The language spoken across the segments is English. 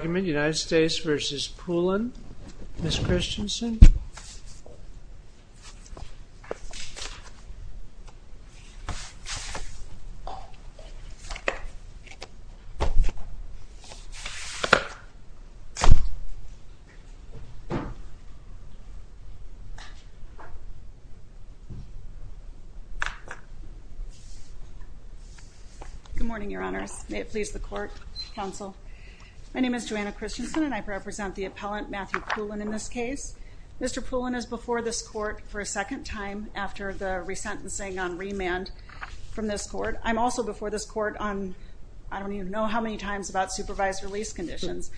United States v. Poulin, Ms. Christensen. Good morning, Your Honors. May it please the Court, Counsel. My name is Joanna Christensen, and I represent the appellant, Matthew Poulin, in this case. Mr. Poulin is before this Court for a second time after the resentencing on remand from this Court. I'm also before this Court on, I don't even know how many times, about supervised release conditions,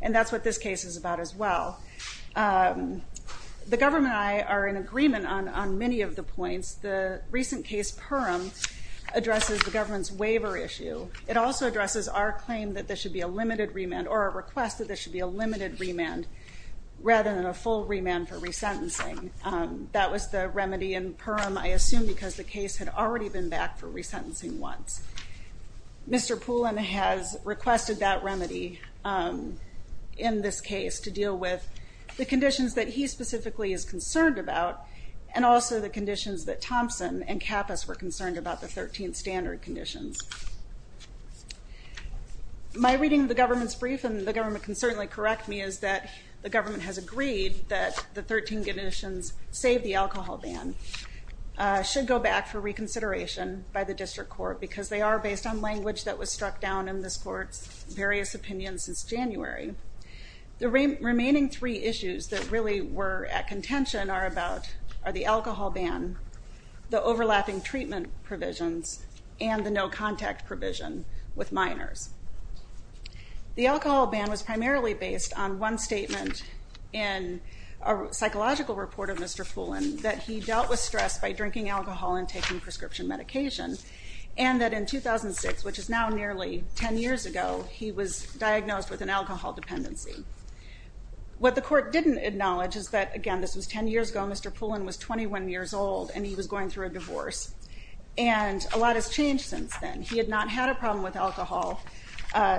and that's what this case is about as well. The government and I are in agreement on many of the points. The recent case, Purim, addresses the government's waiver issue. It also addresses our claim that there should be a limited remand, or a request that there should be a limited remand rather than a full remand for resentencing. That was the remedy in Purim, I assume because the case had already been back for resentencing once. Mr. Poulin has requested that remedy in this case to deal with the conditions that he specifically is concerned about, and also the conditions that Thompson and Kappas were concerned about, the 13th standard conditions. My reading of the government's brief, and the government can certainly correct me, is that the government has agreed that the 13 conditions, save the alcohol ban, should go back for reconsideration by the District Court, because they are based on language that was struck down in this Court's various opinions since January. The remaining three issues that really were at contention are the alcohol ban, the overlapping treatment provisions, and the no contact provision with minors. The alcohol ban was primarily based on one statement in a psychological report of Mr. Poulin that he dealt with stress by drinking alcohol and taking prescription medication, and that in 2006, which is now nearly 10 years ago, he was diagnosed with an alcohol dependency. What the Court didn't acknowledge is that, again, this was 10 years ago, Mr. Poulin was 21 years old and he was going through a divorce, and a lot has changed since then. He had not had a problem with alcohol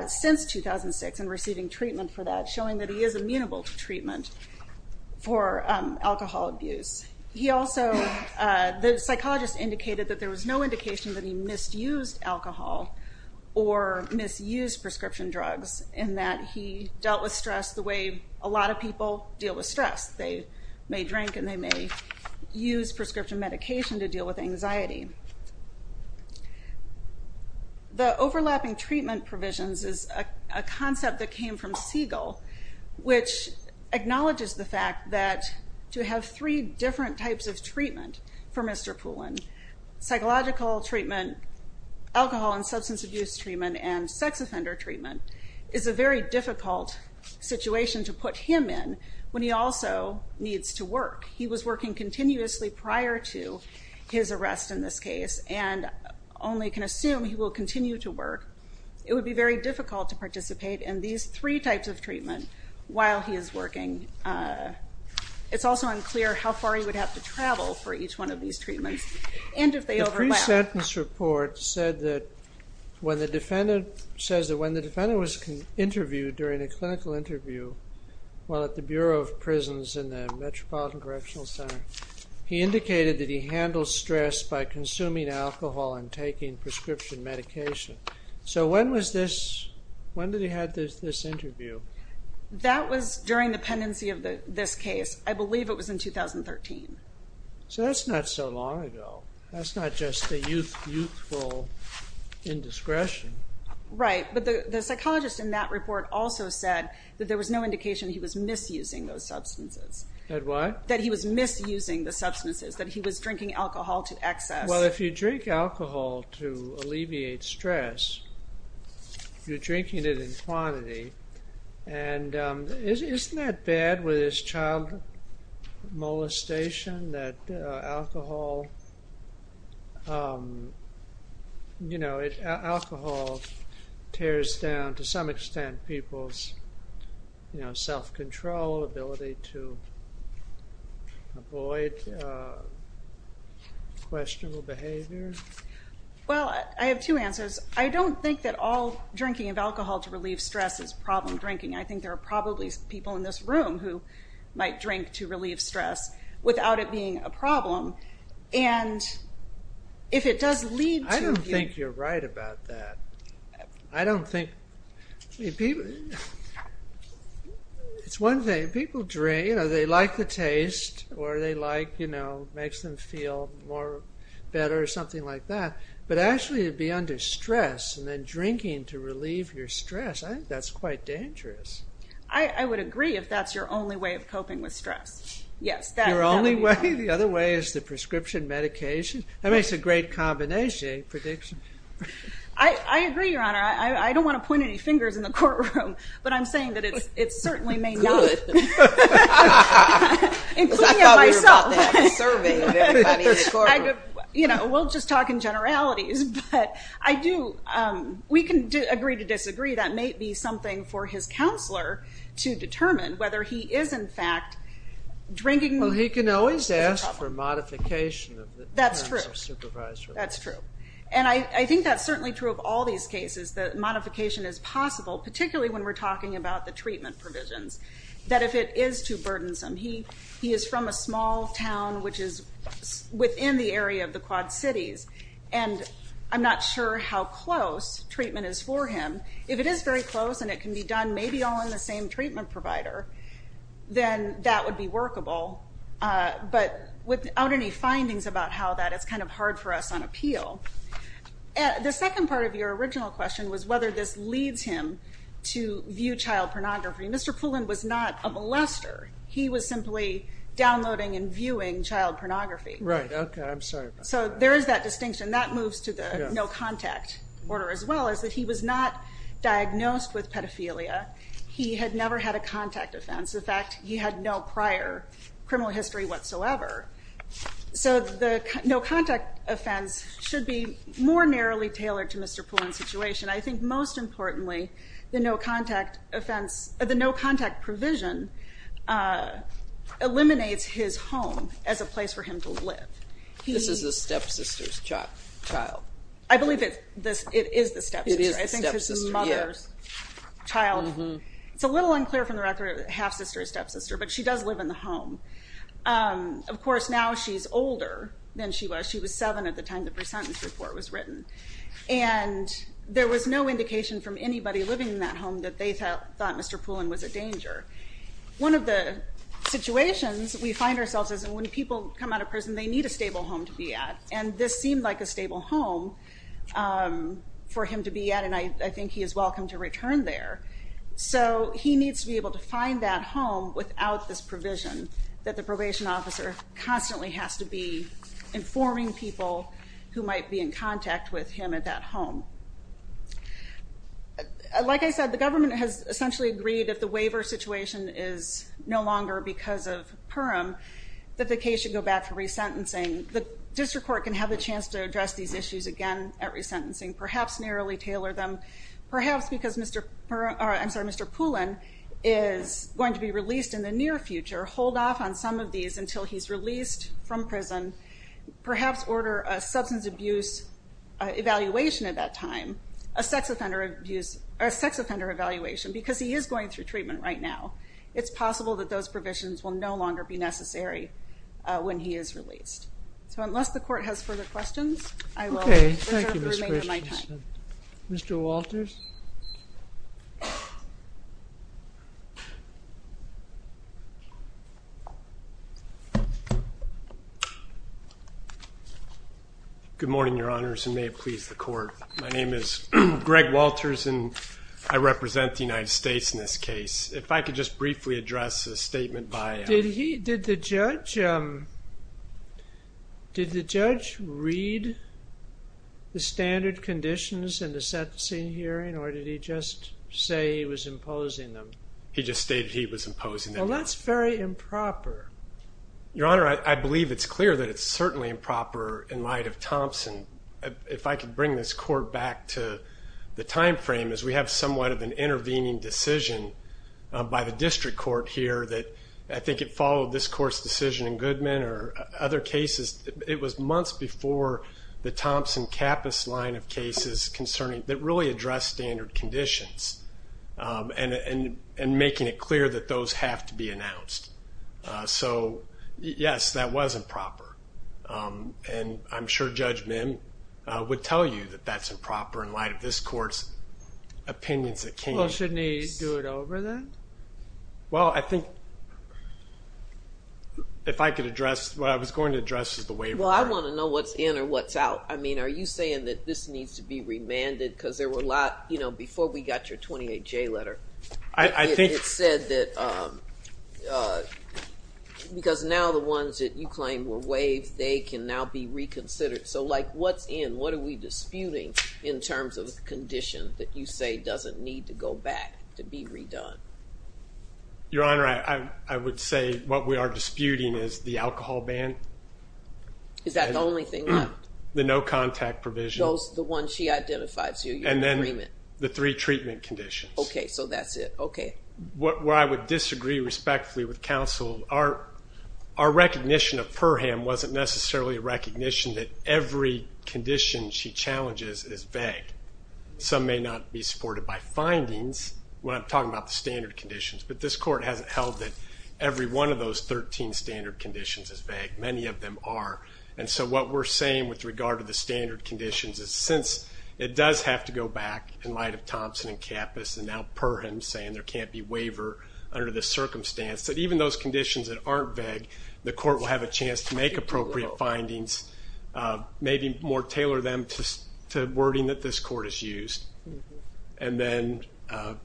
since 2006 and receiving treatment for that, showing that he is amenable to treatment for alcohol abuse. He also, the psychologist indicated that there was no indication that he misused alcohol or misused prescription drugs in that he dealt with stress the way a lot of people deal with stress. They may drink and they may use prescription medication to deal with anxiety. The overlapping treatment provisions is a concept that came from Siegel, which acknowledges the fact that to have three different types of treatment for Mr. Poulin, psychological treatment, alcohol and substance abuse treatment, and sex offender treatment, is a very difficult situation to put him in when he also needs to work. He was working continuously prior to his arrest in this case and only can assume he will continue to work. It would be very difficult to participate in these three types of treatment while he is working. It's also unclear how far he would have to travel for each one of these treatments and if they overlap. The pre-sentence report says that when the defendant was interviewed during a clinical interview while at the Bureau of Prisons in the Metropolitan Correctional Center, he indicated that he handled stress by consuming alcohol and taking prescription medication. So when did he have this interview? That was during the pendency of this case. I believe it was in 2013. So that's not so long ago. That's not just the youthful indiscretion. Right, but the psychologist in that report also said that there was no indication he was misusing those substances. That what? That he was misusing the substances, that he was drinking alcohol to excess. Well, if you drink alcohol to alleviate stress, you're drinking it in quantity. And isn't that bad with this child molestation that alcohol, you know, alcohol tears down to some extent people's self-control, ability to avoid questionable behavior? Well, I have two answers. I don't think that all drinking of alcohol to relieve stress is problem drinking. I think there are probably people in this room who might drink to relieve stress without it being a problem. And if it does lead to... I don't think you're right about that. I don't think... It's one thing, people drink, you know, they like the taste or they like, you know, makes them feel more better or something like that. But actually to be under stress and then drinking to relieve your stress, I think that's quite dangerous. I would agree if that's your only way of coping with stress. Yes. Your only way? The other way is the prescription medication? That makes a great combination prediction. I agree, Your Honor. I don't want to point any fingers in the courtroom, but I'm saying that it certainly may not. Good. Including myself. Because I thought we were about to have a survey of everybody in the courtroom. You know, we'll just talk in generalities, but I do... We can agree to disagree. That may be something for his counselor to determine, whether he is, in fact, drinking... Well, he can always ask for a modification. That's true. That's true. And I think that's certainly true of all these cases, that modification is possible, particularly when we're talking about the treatment provisions. That if it is too burdensome, he is from a small town, which is within the area of the Quad Cities, and I'm not sure how close treatment is for him. If it is very close and it can be done maybe all in the same treatment provider, then that would be workable. But without any findings about how that, it's kind of hard for us on appeal. The second part of your original question was whether this leads him to view child pornography. Mr. Pullen was not a molester. He was simply downloading and viewing child pornography. Right. Okay. I'm sorry about that. So there is that distinction. That moves to the no-contact order as well, is that he was not diagnosed with pedophilia. He had never had a contact offense. In fact, he had no prior criminal history whatsoever. So the no-contact offense should be more narrowly tailored to Mr. Pullen's situation. I think most importantly, the no-contact provision eliminates his home as a place for him to live. This is the stepsister's child. I believe it is the stepsister. It is the stepsister, yes. I think his mother's child. It's a little unclear from the record if half-sister or stepsister, but she does live in the home. Of course, now she's older than she was. She was seven at the time the presentence report was written. And there was no indication from anybody living in that home that they thought Mr. Pullen was a danger. One of the situations we find ourselves is when people come out of prison, they need a stable home to be at. And this seemed like a stable home for him to be at, and I think he is welcome to return there. So he needs to be able to find that home without this provision that the probation officer constantly has to be informing people who might be in contact with him at that home. Like I said, the government has essentially agreed if the waiver situation is no longer because of PIRM, that the case should go back to resentencing. The district court can have a chance to address these issues again at resentencing, perhaps narrowly tailor them, perhaps because Mr. Pullen is going to be released in the near future, hold off on some of these until he's released from prison, perhaps order a substance abuse evaluation at that time, a sex offender evaluation, because he is going through treatment right now. It's possible that those provisions will no longer be necessary when he is released. So unless the court has further questions, I will reserve the remainder of my time. Mr. Walters. Good morning, Your Honors, and may it please the court. My name is Greg Walters, and I represent the United States in this case. If I could just briefly address a statement by... Did the judge read the standard conditions in the sentencing hearing, or did he just say he was imposing them? He just stated he was imposing them. Well, that's very improper. Your Honor, I believe it's clear that it's certainly improper in light of Thompson. If I could bring this court back to the time frame, as we have somewhat of an intervening decision by the district court here that I think it followed this court's decision in Goodman or other cases. It was months before the Thompson-Kappas line of cases that really addressed standard conditions and making it clear that those have to be announced. So, yes, that was improper. And I'm sure Judge Mim would tell you that that's improper in light of this court's opinions at King. Well, shouldn't he do it over then? Well, I think if I could address what I was going to address is the waiver. Well, I want to know what's in or what's out. I mean, are you saying that this needs to be remanded because there were a lot, you know, before we got your 28J letter. It said that because now the ones that you claim were waived, they can now be reconsidered. So, like, what's in? What are we disputing in terms of the condition that you say doesn't need to go back to be redone? Your Honor, I would say what we are disputing is the alcohol ban. Is that the only thing left? The no contact provision. Those, the ones she identified, so you're in agreement. And then the three treatment conditions. Okay, so that's it. Okay. Where I would disagree respectfully with counsel, our recognition of Perham wasn't necessarily a recognition that every condition she challenges is vague. Some may not be supported by findings when I'm talking about the standard conditions. But this court hasn't held that every one of those 13 standard conditions is vague. Many of them are. And so what we're saying with regard to the standard conditions is since it does have to go back in light of Thompson and Kappas, and now Perham saying there can't be waiver under this circumstance, that even those conditions that aren't vague, the court will have a chance to make appropriate findings, maybe more tailor them to wording that this court has used, and then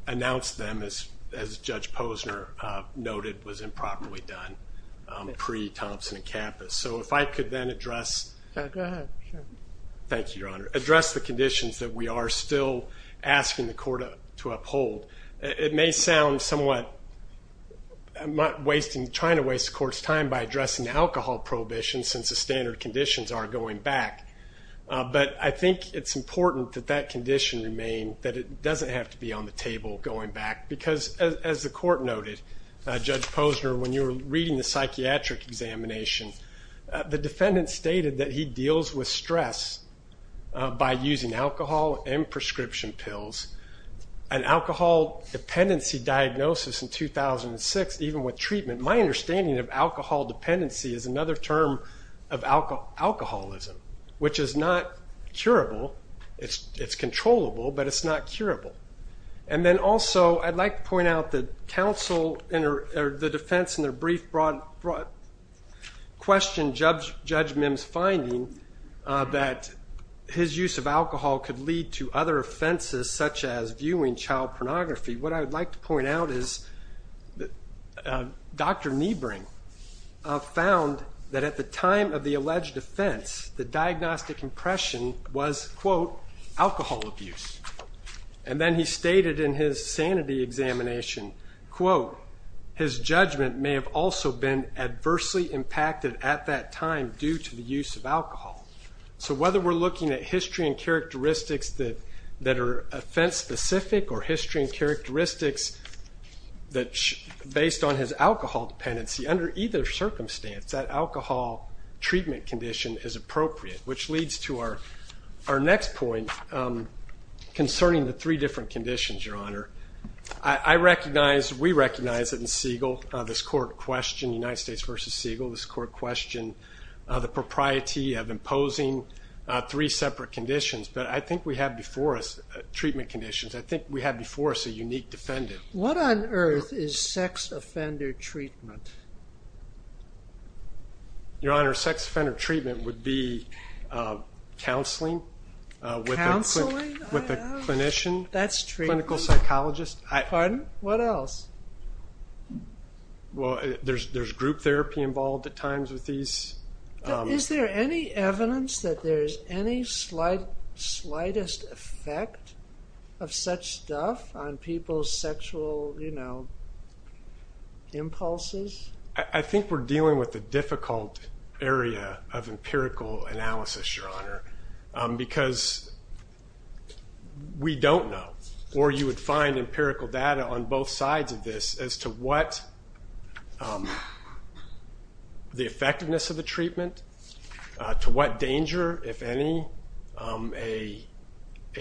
announce them as Judge Posner noted was improperly done pre-Thompson and Kappas. So if I could then address. Go ahead. Thank you, Your Honor. Address the conditions that we are still asking the court to uphold. It may sound somewhat wasting, trying to waste the court's time by addressing the alcohol prohibition since the standard conditions are going back. But I think it's important that that condition remain, that it doesn't have to be on the table going back. Because as the court noted, Judge Posner, when you were reading the psychiatric examination, the defendant stated that he deals with stress by using alcohol and prescription pills. An alcohol dependency diagnosis in 2006, even with treatment, my understanding of alcohol dependency is another term of alcoholism, which is not curable. It's controllable, but it's not curable. And then also I'd like to point out that counsel or the defense in their brief question, Judge Mims' finding that his use of alcohol could lead to other offenses such as viewing child pornography. What I would like to point out is that Dr. Niebring found that at the time of the alleged offense, the diagnostic impression was, quote, alcohol abuse. And then he stated in his sanity examination, quote, his judgment may have also been adversely impacted at that time due to the use of alcohol. So whether we're looking at history and characteristics that are offense specific or history and characteristics based on his alcohol dependency, under either circumstance, that alcohol treatment condition is appropriate, which leads to our next point concerning the three different conditions, Your Honor. I recognize, we recognize it in Siegel, this court question, United States versus Siegel, this court question the propriety of imposing three separate conditions. But I think we have before us treatment conditions. I think we have before us a unique defendant. What on earth is sex offender treatment? Your Honor, sex offender treatment would be counseling. Counseling? With a clinician. That's treatment. Clinical psychologist. Pardon? What else? Well, there's group therapy involved at times with these. Is there any evidence that there's any slightest effect of such stuff on people's sexual, you know, impulses? I think we're dealing with a difficult area of empirical analysis, Your Honor, because we don't know. Or you would find empirical data on both sides of this as to what the effectiveness of the treatment, to what danger, if any, a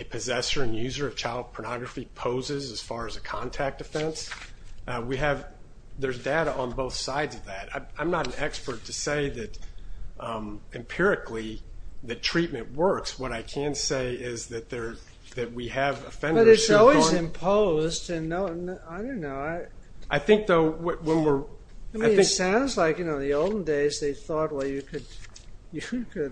possessor and user of child pornography poses as far as a contact offense. We have, there's data on both sides of that. I'm not an expert to say that empirically that treatment works. What I can say is that we have offenders. But it's always imposed. I don't know. I think, though, when we're... It sounds like, you know, in the olden days they thought, well, you could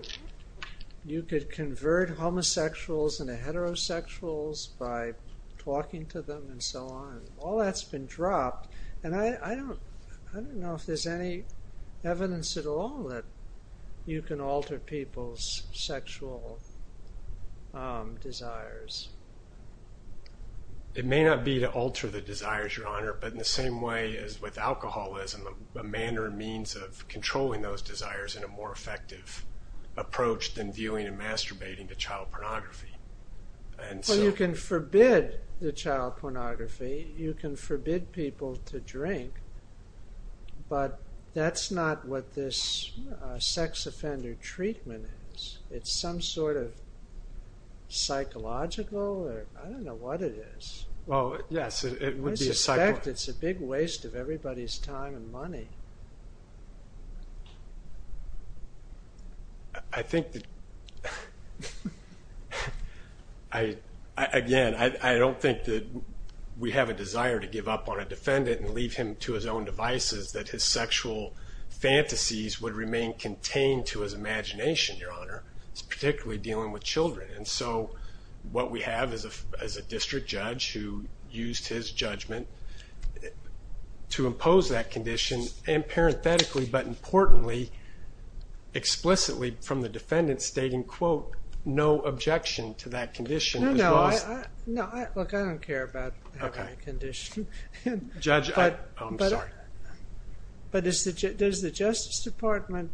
convert homosexuals into heterosexuals by talking to them and so on. All that's been dropped. And I don't know if there's any evidence at all that you can alter people's sexual desires. It may not be to alter the desires, Your Honor, but in the same way as with alcoholism, a manner and means of controlling those desires in a more effective approach than viewing and masturbating to child pornography. Well, you can forbid the child pornography. You can forbid people to drink. But that's not what this sex offender treatment is. It's some sort of psychological, or I don't know what it is. Well, yes, it would be a psychological. I think that... Again, I don't think that we have a desire to give up on a defendant and leave him to his own devices, that his sexual fantasies would remain contained to his imagination, Your Honor, particularly dealing with children. And so what we have is a district judge who used his judgment to impose that condition, and parenthetically, but importantly, explicitly from the defendant stating, quote, no objection to that condition. No, no. Look, I don't care about having a condition. Judge, I'm sorry. But is the Justice Department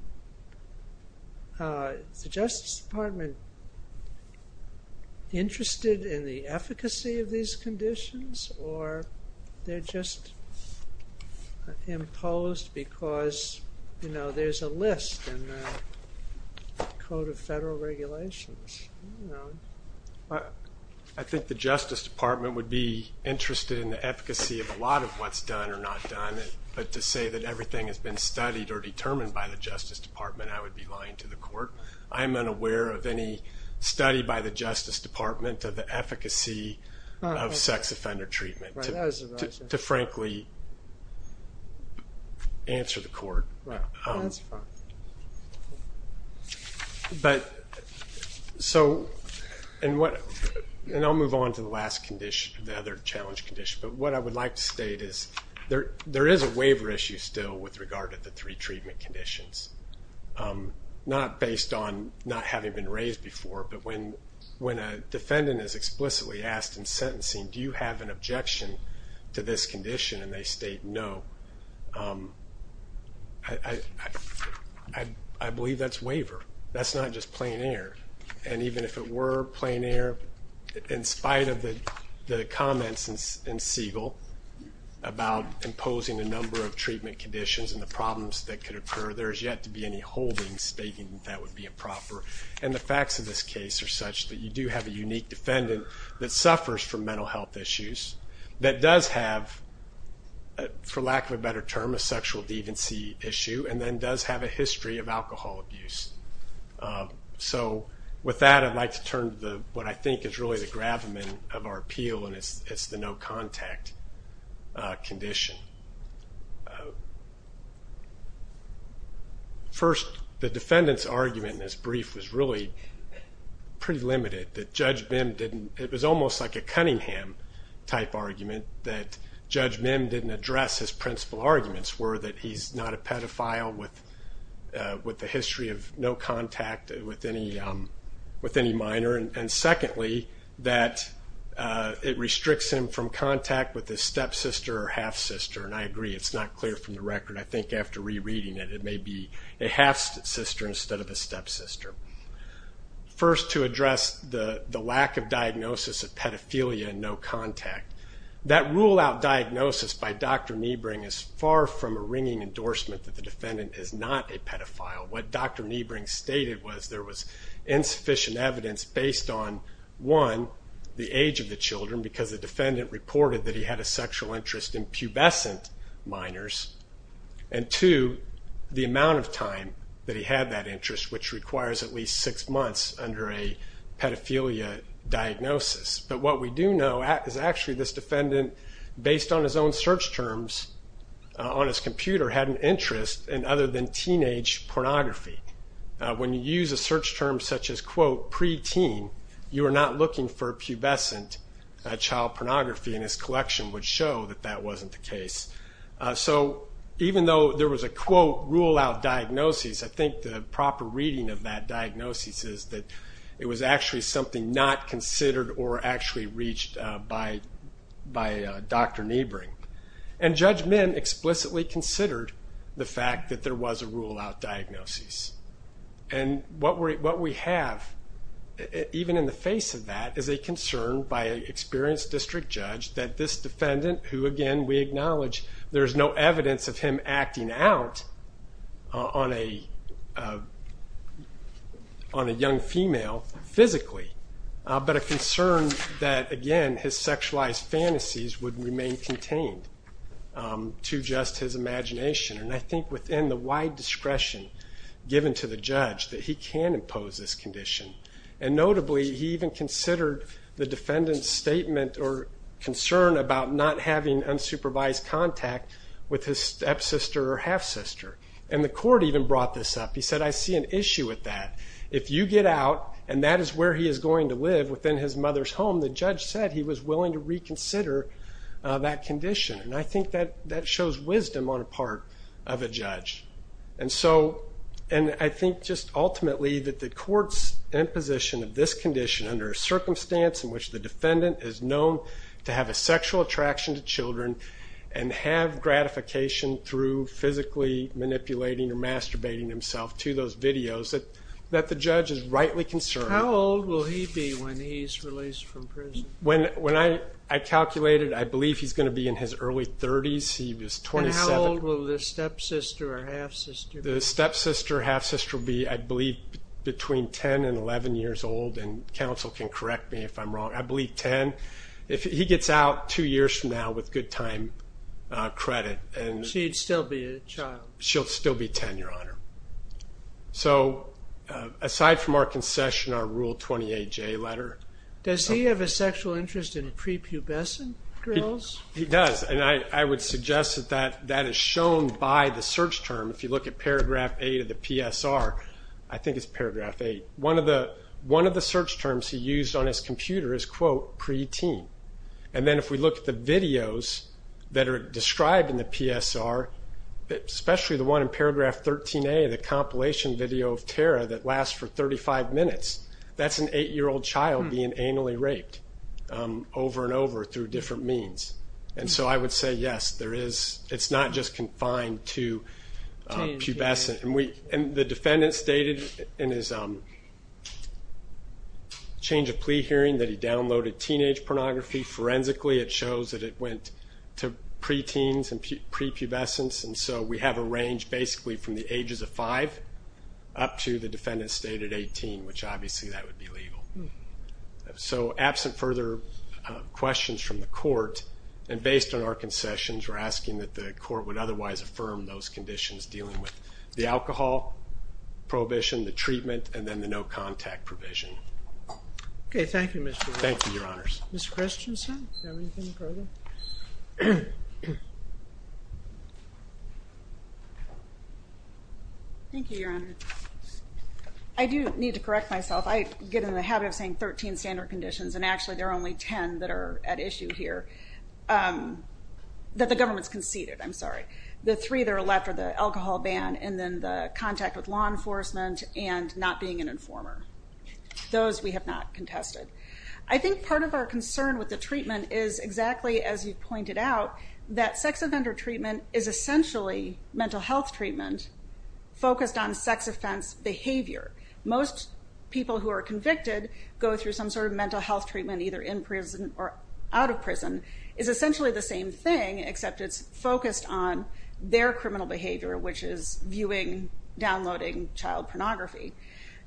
interested in the efficacy of these conditions, or they're just imposed because, you know, there's a list in the Code of Federal Regulations? I think the Justice Department would be interested in the efficacy of a lot of what's done or not done. But to say that everything has been studied or determined by the Justice Department, I would be lying to the court. I am unaware of any study by the Justice Department of the efficacy of sex offender treatment, to frankly answer the court. That's fine. But so, and I'll move on to the last condition, the other challenge condition. But what I would like to state is there is a waiver issue still with regard to the three treatment conditions, not based on not having been raised before, but when a defendant is explicitly asked in sentencing, do you have an objection to this condition, and they state no. I believe that's waiver. That's not just plein air. And even if it were plein air, in spite of the comments in Siegel about imposing a number of treatment conditions and the problems that could occur, there is yet to be any holding stating that that would be improper. And the facts of this case are such that you do have a unique defendant that suffers from mental health issues, that does have, for lack of a better term, a sexual deviancy issue, and then does have a history of alcohol abuse. So with that, I'd like to turn to what I think is really the gravamen of our appeal, and it's the no contact condition. First, the defendant's argument in his brief was really pretty limited. It was almost like a Cunningham-type argument that Judge Mim didn't address his principal arguments, were that he's not a pedophile with a history of no contact with any minor, and secondly, that it restricts him from contact with his stepsister or half-sister. And I agree, it's not clear from the record. I think after rereading it, it may be a half-sister instead of a stepsister. First, to address the lack of diagnosis of pedophilia and no contact, that rule-out diagnosis by Dr. Niebring is far from a ringing endorsement that the defendant is not a pedophile. What Dr. Niebring stated was there was insufficient evidence based on, one, the age of the children, because the defendant reported that he had a sexual interest in pubescent minors, and two, the amount of time that he had that interest, which requires at least six months under a pedophilia diagnosis. But what we do know is actually this defendant, based on his own search terms on his computer, had an interest in other than teenage pornography. When you use a search term such as, quote, pre-teen, you are not looking for pubescent child pornography, and his collection would show that that wasn't the case. So even though there was a, quote, rule-out diagnosis, I think the proper reading of that diagnosis is that it was actually something not considered or actually reached by Dr. Niebring. And Judge Mint explicitly considered the fact that there was a rule-out diagnosis. And what we have, even in the face of that, is a concern by an experienced district judge that this defendant, who, again, we acknowledge there is no evidence of him acting out on a young female physically, but a concern that, again, his sexualized fantasies would remain contained to just his imagination. And I think within the wide discretion given to the judge that he can impose this condition. And notably, he even considered the defendant's statement or concern about not having unsupervised contact with his stepsister or half-sister. And the court even brought this up. He said, I see an issue with that. If you get out and that is where he is going to live, within his mother's home, the judge said he was willing to reconsider that condition. And I think that shows wisdom on the part of a judge. And I think just ultimately that the court's imposition of this condition under a circumstance in which the defendant is known to have a sexual attraction to children and have gratification through physically manipulating or masturbating himself to those videos, that the judge is rightly concerned. How old will he be when he is released from prison? When I calculated, I believe he is going to be in his early 30s. And how old will the stepsister or half-sister be? The stepsister or half-sister will be, I believe, between 10 and 11 years old. And counsel can correct me if I'm wrong. I believe 10. If he gets out two years from now with good time credit. She'd still be a child. She'll still be 10, Your Honor. So, aside from our concession, our Rule 28J letter. Does he have a sexual interest in prepubescent girls? He does, and I would suggest that that is shown by the search term. If you look at Paragraph 8 of the PSR, I think it's Paragraph 8. One of the search terms he used on his computer is, quote, preteen. And then if we look at the videos that are described in the PSR, especially the one in Paragraph 13A, the compilation video of Tara that lasts for 35 minutes, that's an eight-year-old child being anally raped over and over through different means. And so I would say, yes, it's not just confined to pubescent. And the defendant stated in his change of plea hearing that he downloaded teenage pornography. Forensically, it shows that it went to preteens and prepubescence. And so we have a range basically from the ages of five up to the defendant stated 18, which obviously that would be legal. So absent further questions from the court, and based on our concessions, we're asking that the court would otherwise affirm those conditions dealing with the alcohol prohibition, the treatment, and then the no-contact provision. Okay, thank you, Mr. Williams. Thank you, Your Honors. Ms. Christensen, do you have anything further? Thank you, Your Honor. I do need to correct myself. I get in the habit of saying 13 standard conditions, and actually there are only 10 that are at issue here, that the government's conceded, I'm sorry. The three that are left are the alcohol ban and then the contact with law enforcement and not being an informer. Those we have not contested. I think part of our concern with the treatment is exactly, as you pointed out, that sex offender treatment is essentially mental health treatment focused on sex offense behavior. Most people who are convicted go through some sort of mental health treatment either in prison or out of prison. It's essentially the same thing, except it's focused on their criminal behavior, which is viewing, downloading child pornography.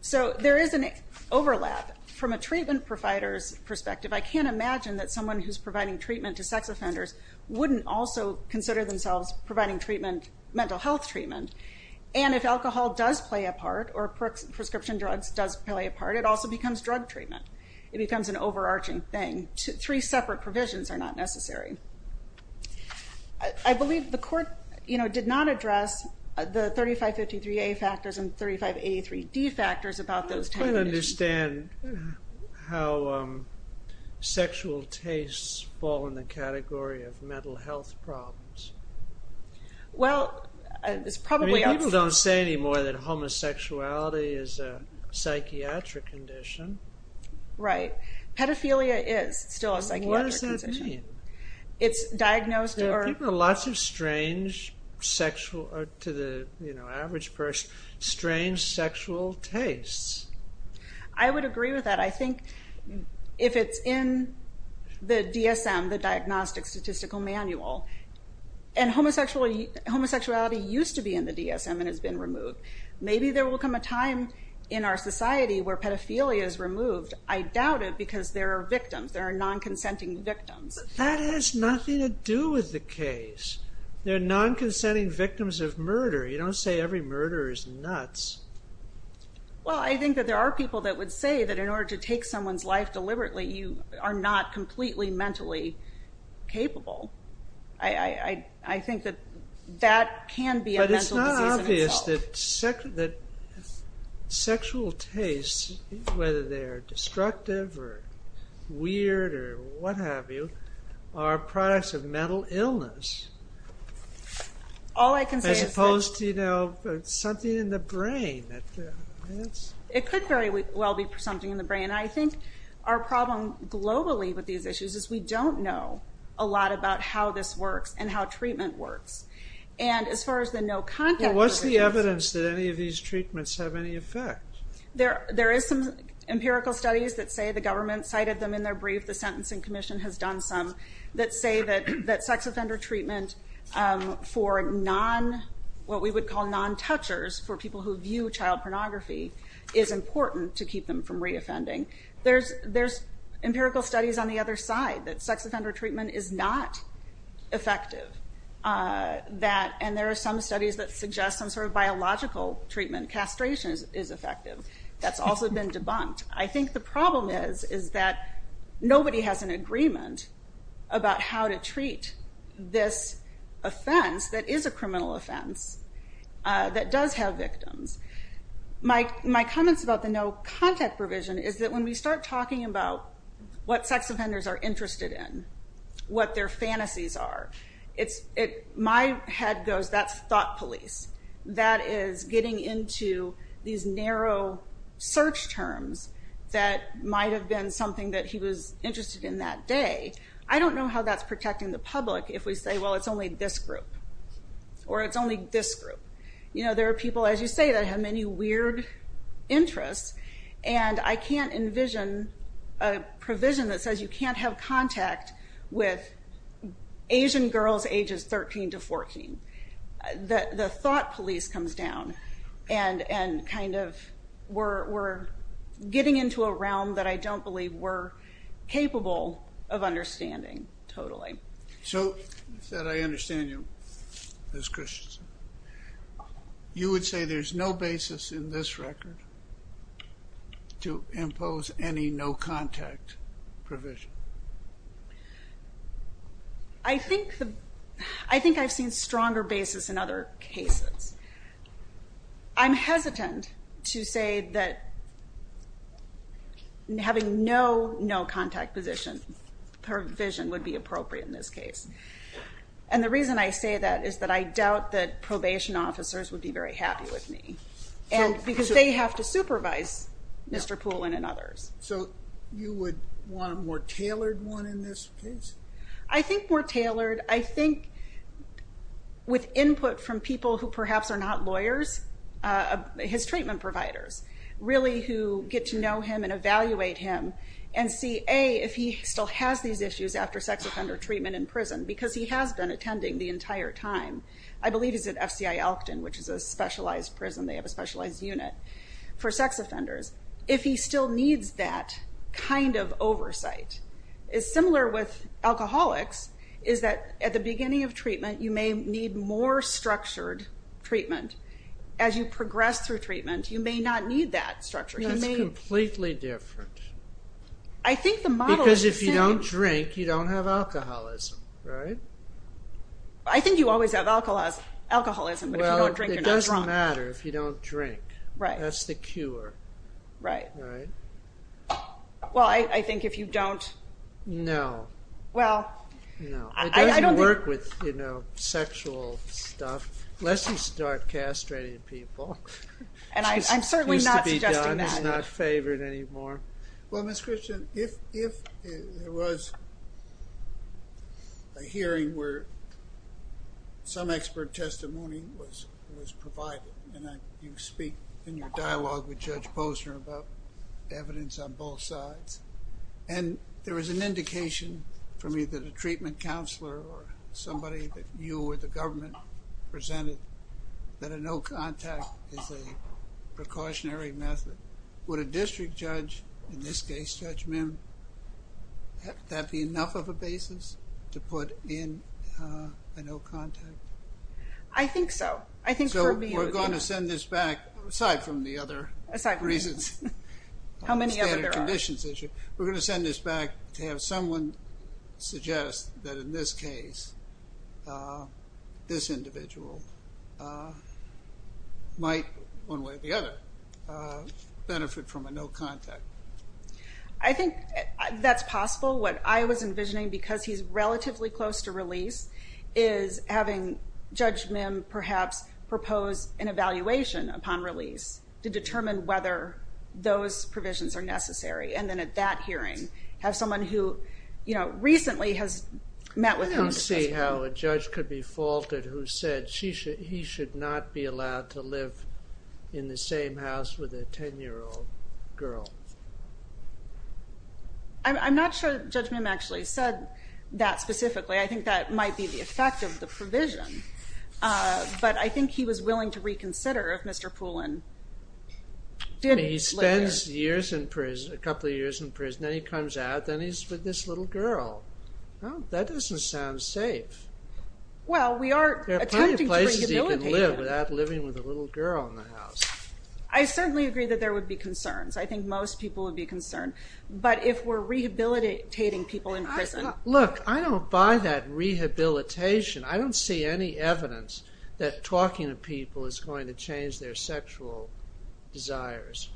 So there is an overlap. From a treatment provider's perspective, I can't imagine that someone who's providing treatment to sex offenders wouldn't also consider themselves providing treatment, mental health treatment. And if alcohol does play a part or prescription drugs does play a part, it also becomes drug treatment. It becomes an overarching thing. Three separate provisions are not necessary. I believe the court did not address the 3553A factors and 3583D factors about those type of issues. I don't quite understand how sexual tastes fall in the category of mental health problems. Well, it's probably... People don't say anymore that homosexuality is a psychiatric condition. Right. Pedophilia is still a psychiatric condition. It's diagnosed or... There are lots of strange sexual, to the average person, strange sexual tastes. I would agree with that. I think if it's in the DSM, the Diagnostic Statistical Manual, and homosexuality used to be in the DSM and has been removed, maybe there will come a time in our society where pedophilia is removed. I doubt it because there are victims. There are non-consenting victims. That has nothing to do with the case. There are non-consenting victims of murder. You don't say every murder is nuts. Well, I think that there are people that would say that in order to take someone's life deliberately, you are not completely mentally capable. I think that that can be a mental disease in itself. That sexual tastes, whether they are destructive or weird or what have you, are products of mental illness. All I can say is that... As opposed to something in the brain. It could very well be something in the brain. I think our problem globally with these issues is we don't know a lot about how this works and how treatment works. As far as the no contact... What's the evidence that any of these treatments have any effect? There is some empirical studies that say the government cited them in their brief. The Sentencing Commission has done some that say that sex offender treatment for what we would call non-touchers, for people who view child pornography, is important to keep them from re-offending. There's empirical studies on the other side that sex offender treatment is not effective and there are some studies that suggest some sort of biological treatment, castration is effective, that's also been debunked. I think the problem is that nobody has an agreement about how to treat this offense that is a criminal offense, that does have victims. My comments about the no contact provision is that when we start talking about what sex offenders are interested in, what their fantasies are, my head goes that's thought police. That is getting into these narrow search terms that might have been something that he was interested in that day. I don't know how that's protecting the public if we say, well, it's only this group or it's only this group. There are people, as you say, that have many weird interests and I can't envision a provision that says you can't have contact with Asian girls ages 13 to 14. The thought police comes down and kind of we're getting into a realm that I don't believe we're capable of understanding totally. So that I understand you, Ms. Christensen, you would say there's no basis in this record to impose any no contact provision? I think I've seen stronger basis in other cases. I'm hesitant to say that having no no contact provision would be appropriate in this case. And the reason I say that is that I doubt that probation officers would be very happy with me because they have to supervise Mr. Poulin and others. So you would want a more tailored one in this case? I think more tailored. I think with input from people who perhaps are not lawyers, his treatment providers really who get to know him and evaluate him and see, A, if he still has these issues after sex offender treatment in prison because he has been attending the entire time. I believe he's at FCI Elkton, which is a specialized prison. They have a specialized unit for sex offenders. If he still needs that kind of oversight, it's similar with alcoholics is that at the beginning of treatment you may need more structured treatment. As you progress through treatment, you may not need that structure. That's completely different. I think the model is the same. Because if you don't drink, you don't have alcoholism, right? I think you always have alcoholism, but if you don't drink, you're not drunk. Well, it doesn't matter if you don't drink. Right. That's the cure. Right. Well, I think if you don't... No. Well, I don't think... It doesn't work with sexual stuff unless you start castrating people. And I'm certainly not suggesting that. It's not favored anymore. Well, Ms. Christian, if there was a hearing where some expert testimony was provided and you speak in your dialogue with Judge Posner about evidence on both sides, and there was an indication from either the treatment counselor or somebody that you or the government presented that a no-contact is a precautionary method, would a district judge, in this case Judge Mim, would that be enough of a basis to put in a no-contact? I think so. So we're going to send this back, aside from the other reasons. How many other there are. We're going to send this back to have someone suggest that in this case this individual might, one way or the other, benefit from a no-contact. I think that's possible. What I was envisioning, because he's relatively close to release, is having Judge Mim perhaps propose an evaluation upon release to determine whether those provisions are necessary, and then at that hearing have someone who recently has met with him. I don't see how a judge could be faulted who said he should not be allowed to live in the same house with a 10-year-old girl. I'm not sure Judge Mim actually said that specifically. I think that might be the effect of the provision. But I think he was willing to reconsider if Mr. Poulin didn't live there. He spends years in prison, a couple of years in prison, then he comes out, then he's with this little girl. That doesn't sound safe. There are plenty of places he can live without living with a little girl in the house. I certainly agree that there would be concerns. I think most people would be concerned. But if we're rehabilitating people in prison... Look, I don't buy that rehabilitation. I don't see any evidence that talking to people is going to change their sexual desires.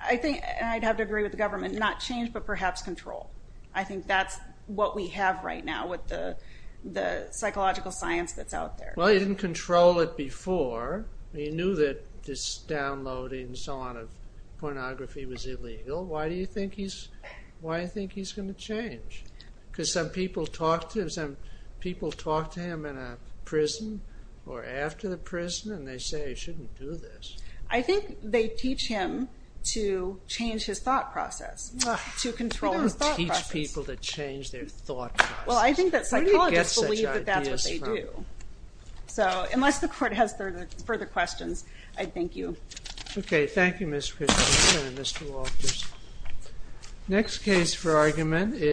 I'd have to agree with the government. Not change, but perhaps control. I think that's what we have right now with the psychological science that's out there. Well, he didn't control it before. He knew that this downloading and so on of pornography was illegal. Why do you think he's going to change? Because some people talked to him in a prison, or after the prison, and they say he shouldn't do this. I think they teach him to change his thought process, to control his thought process. They don't teach people to change their thought process. Well, I think that psychologists believe that that's what they do. So, unless the court has further questions, I thank you. Okay, thank you, Ms. Christensen and Mr. Walters. Next case for argument is...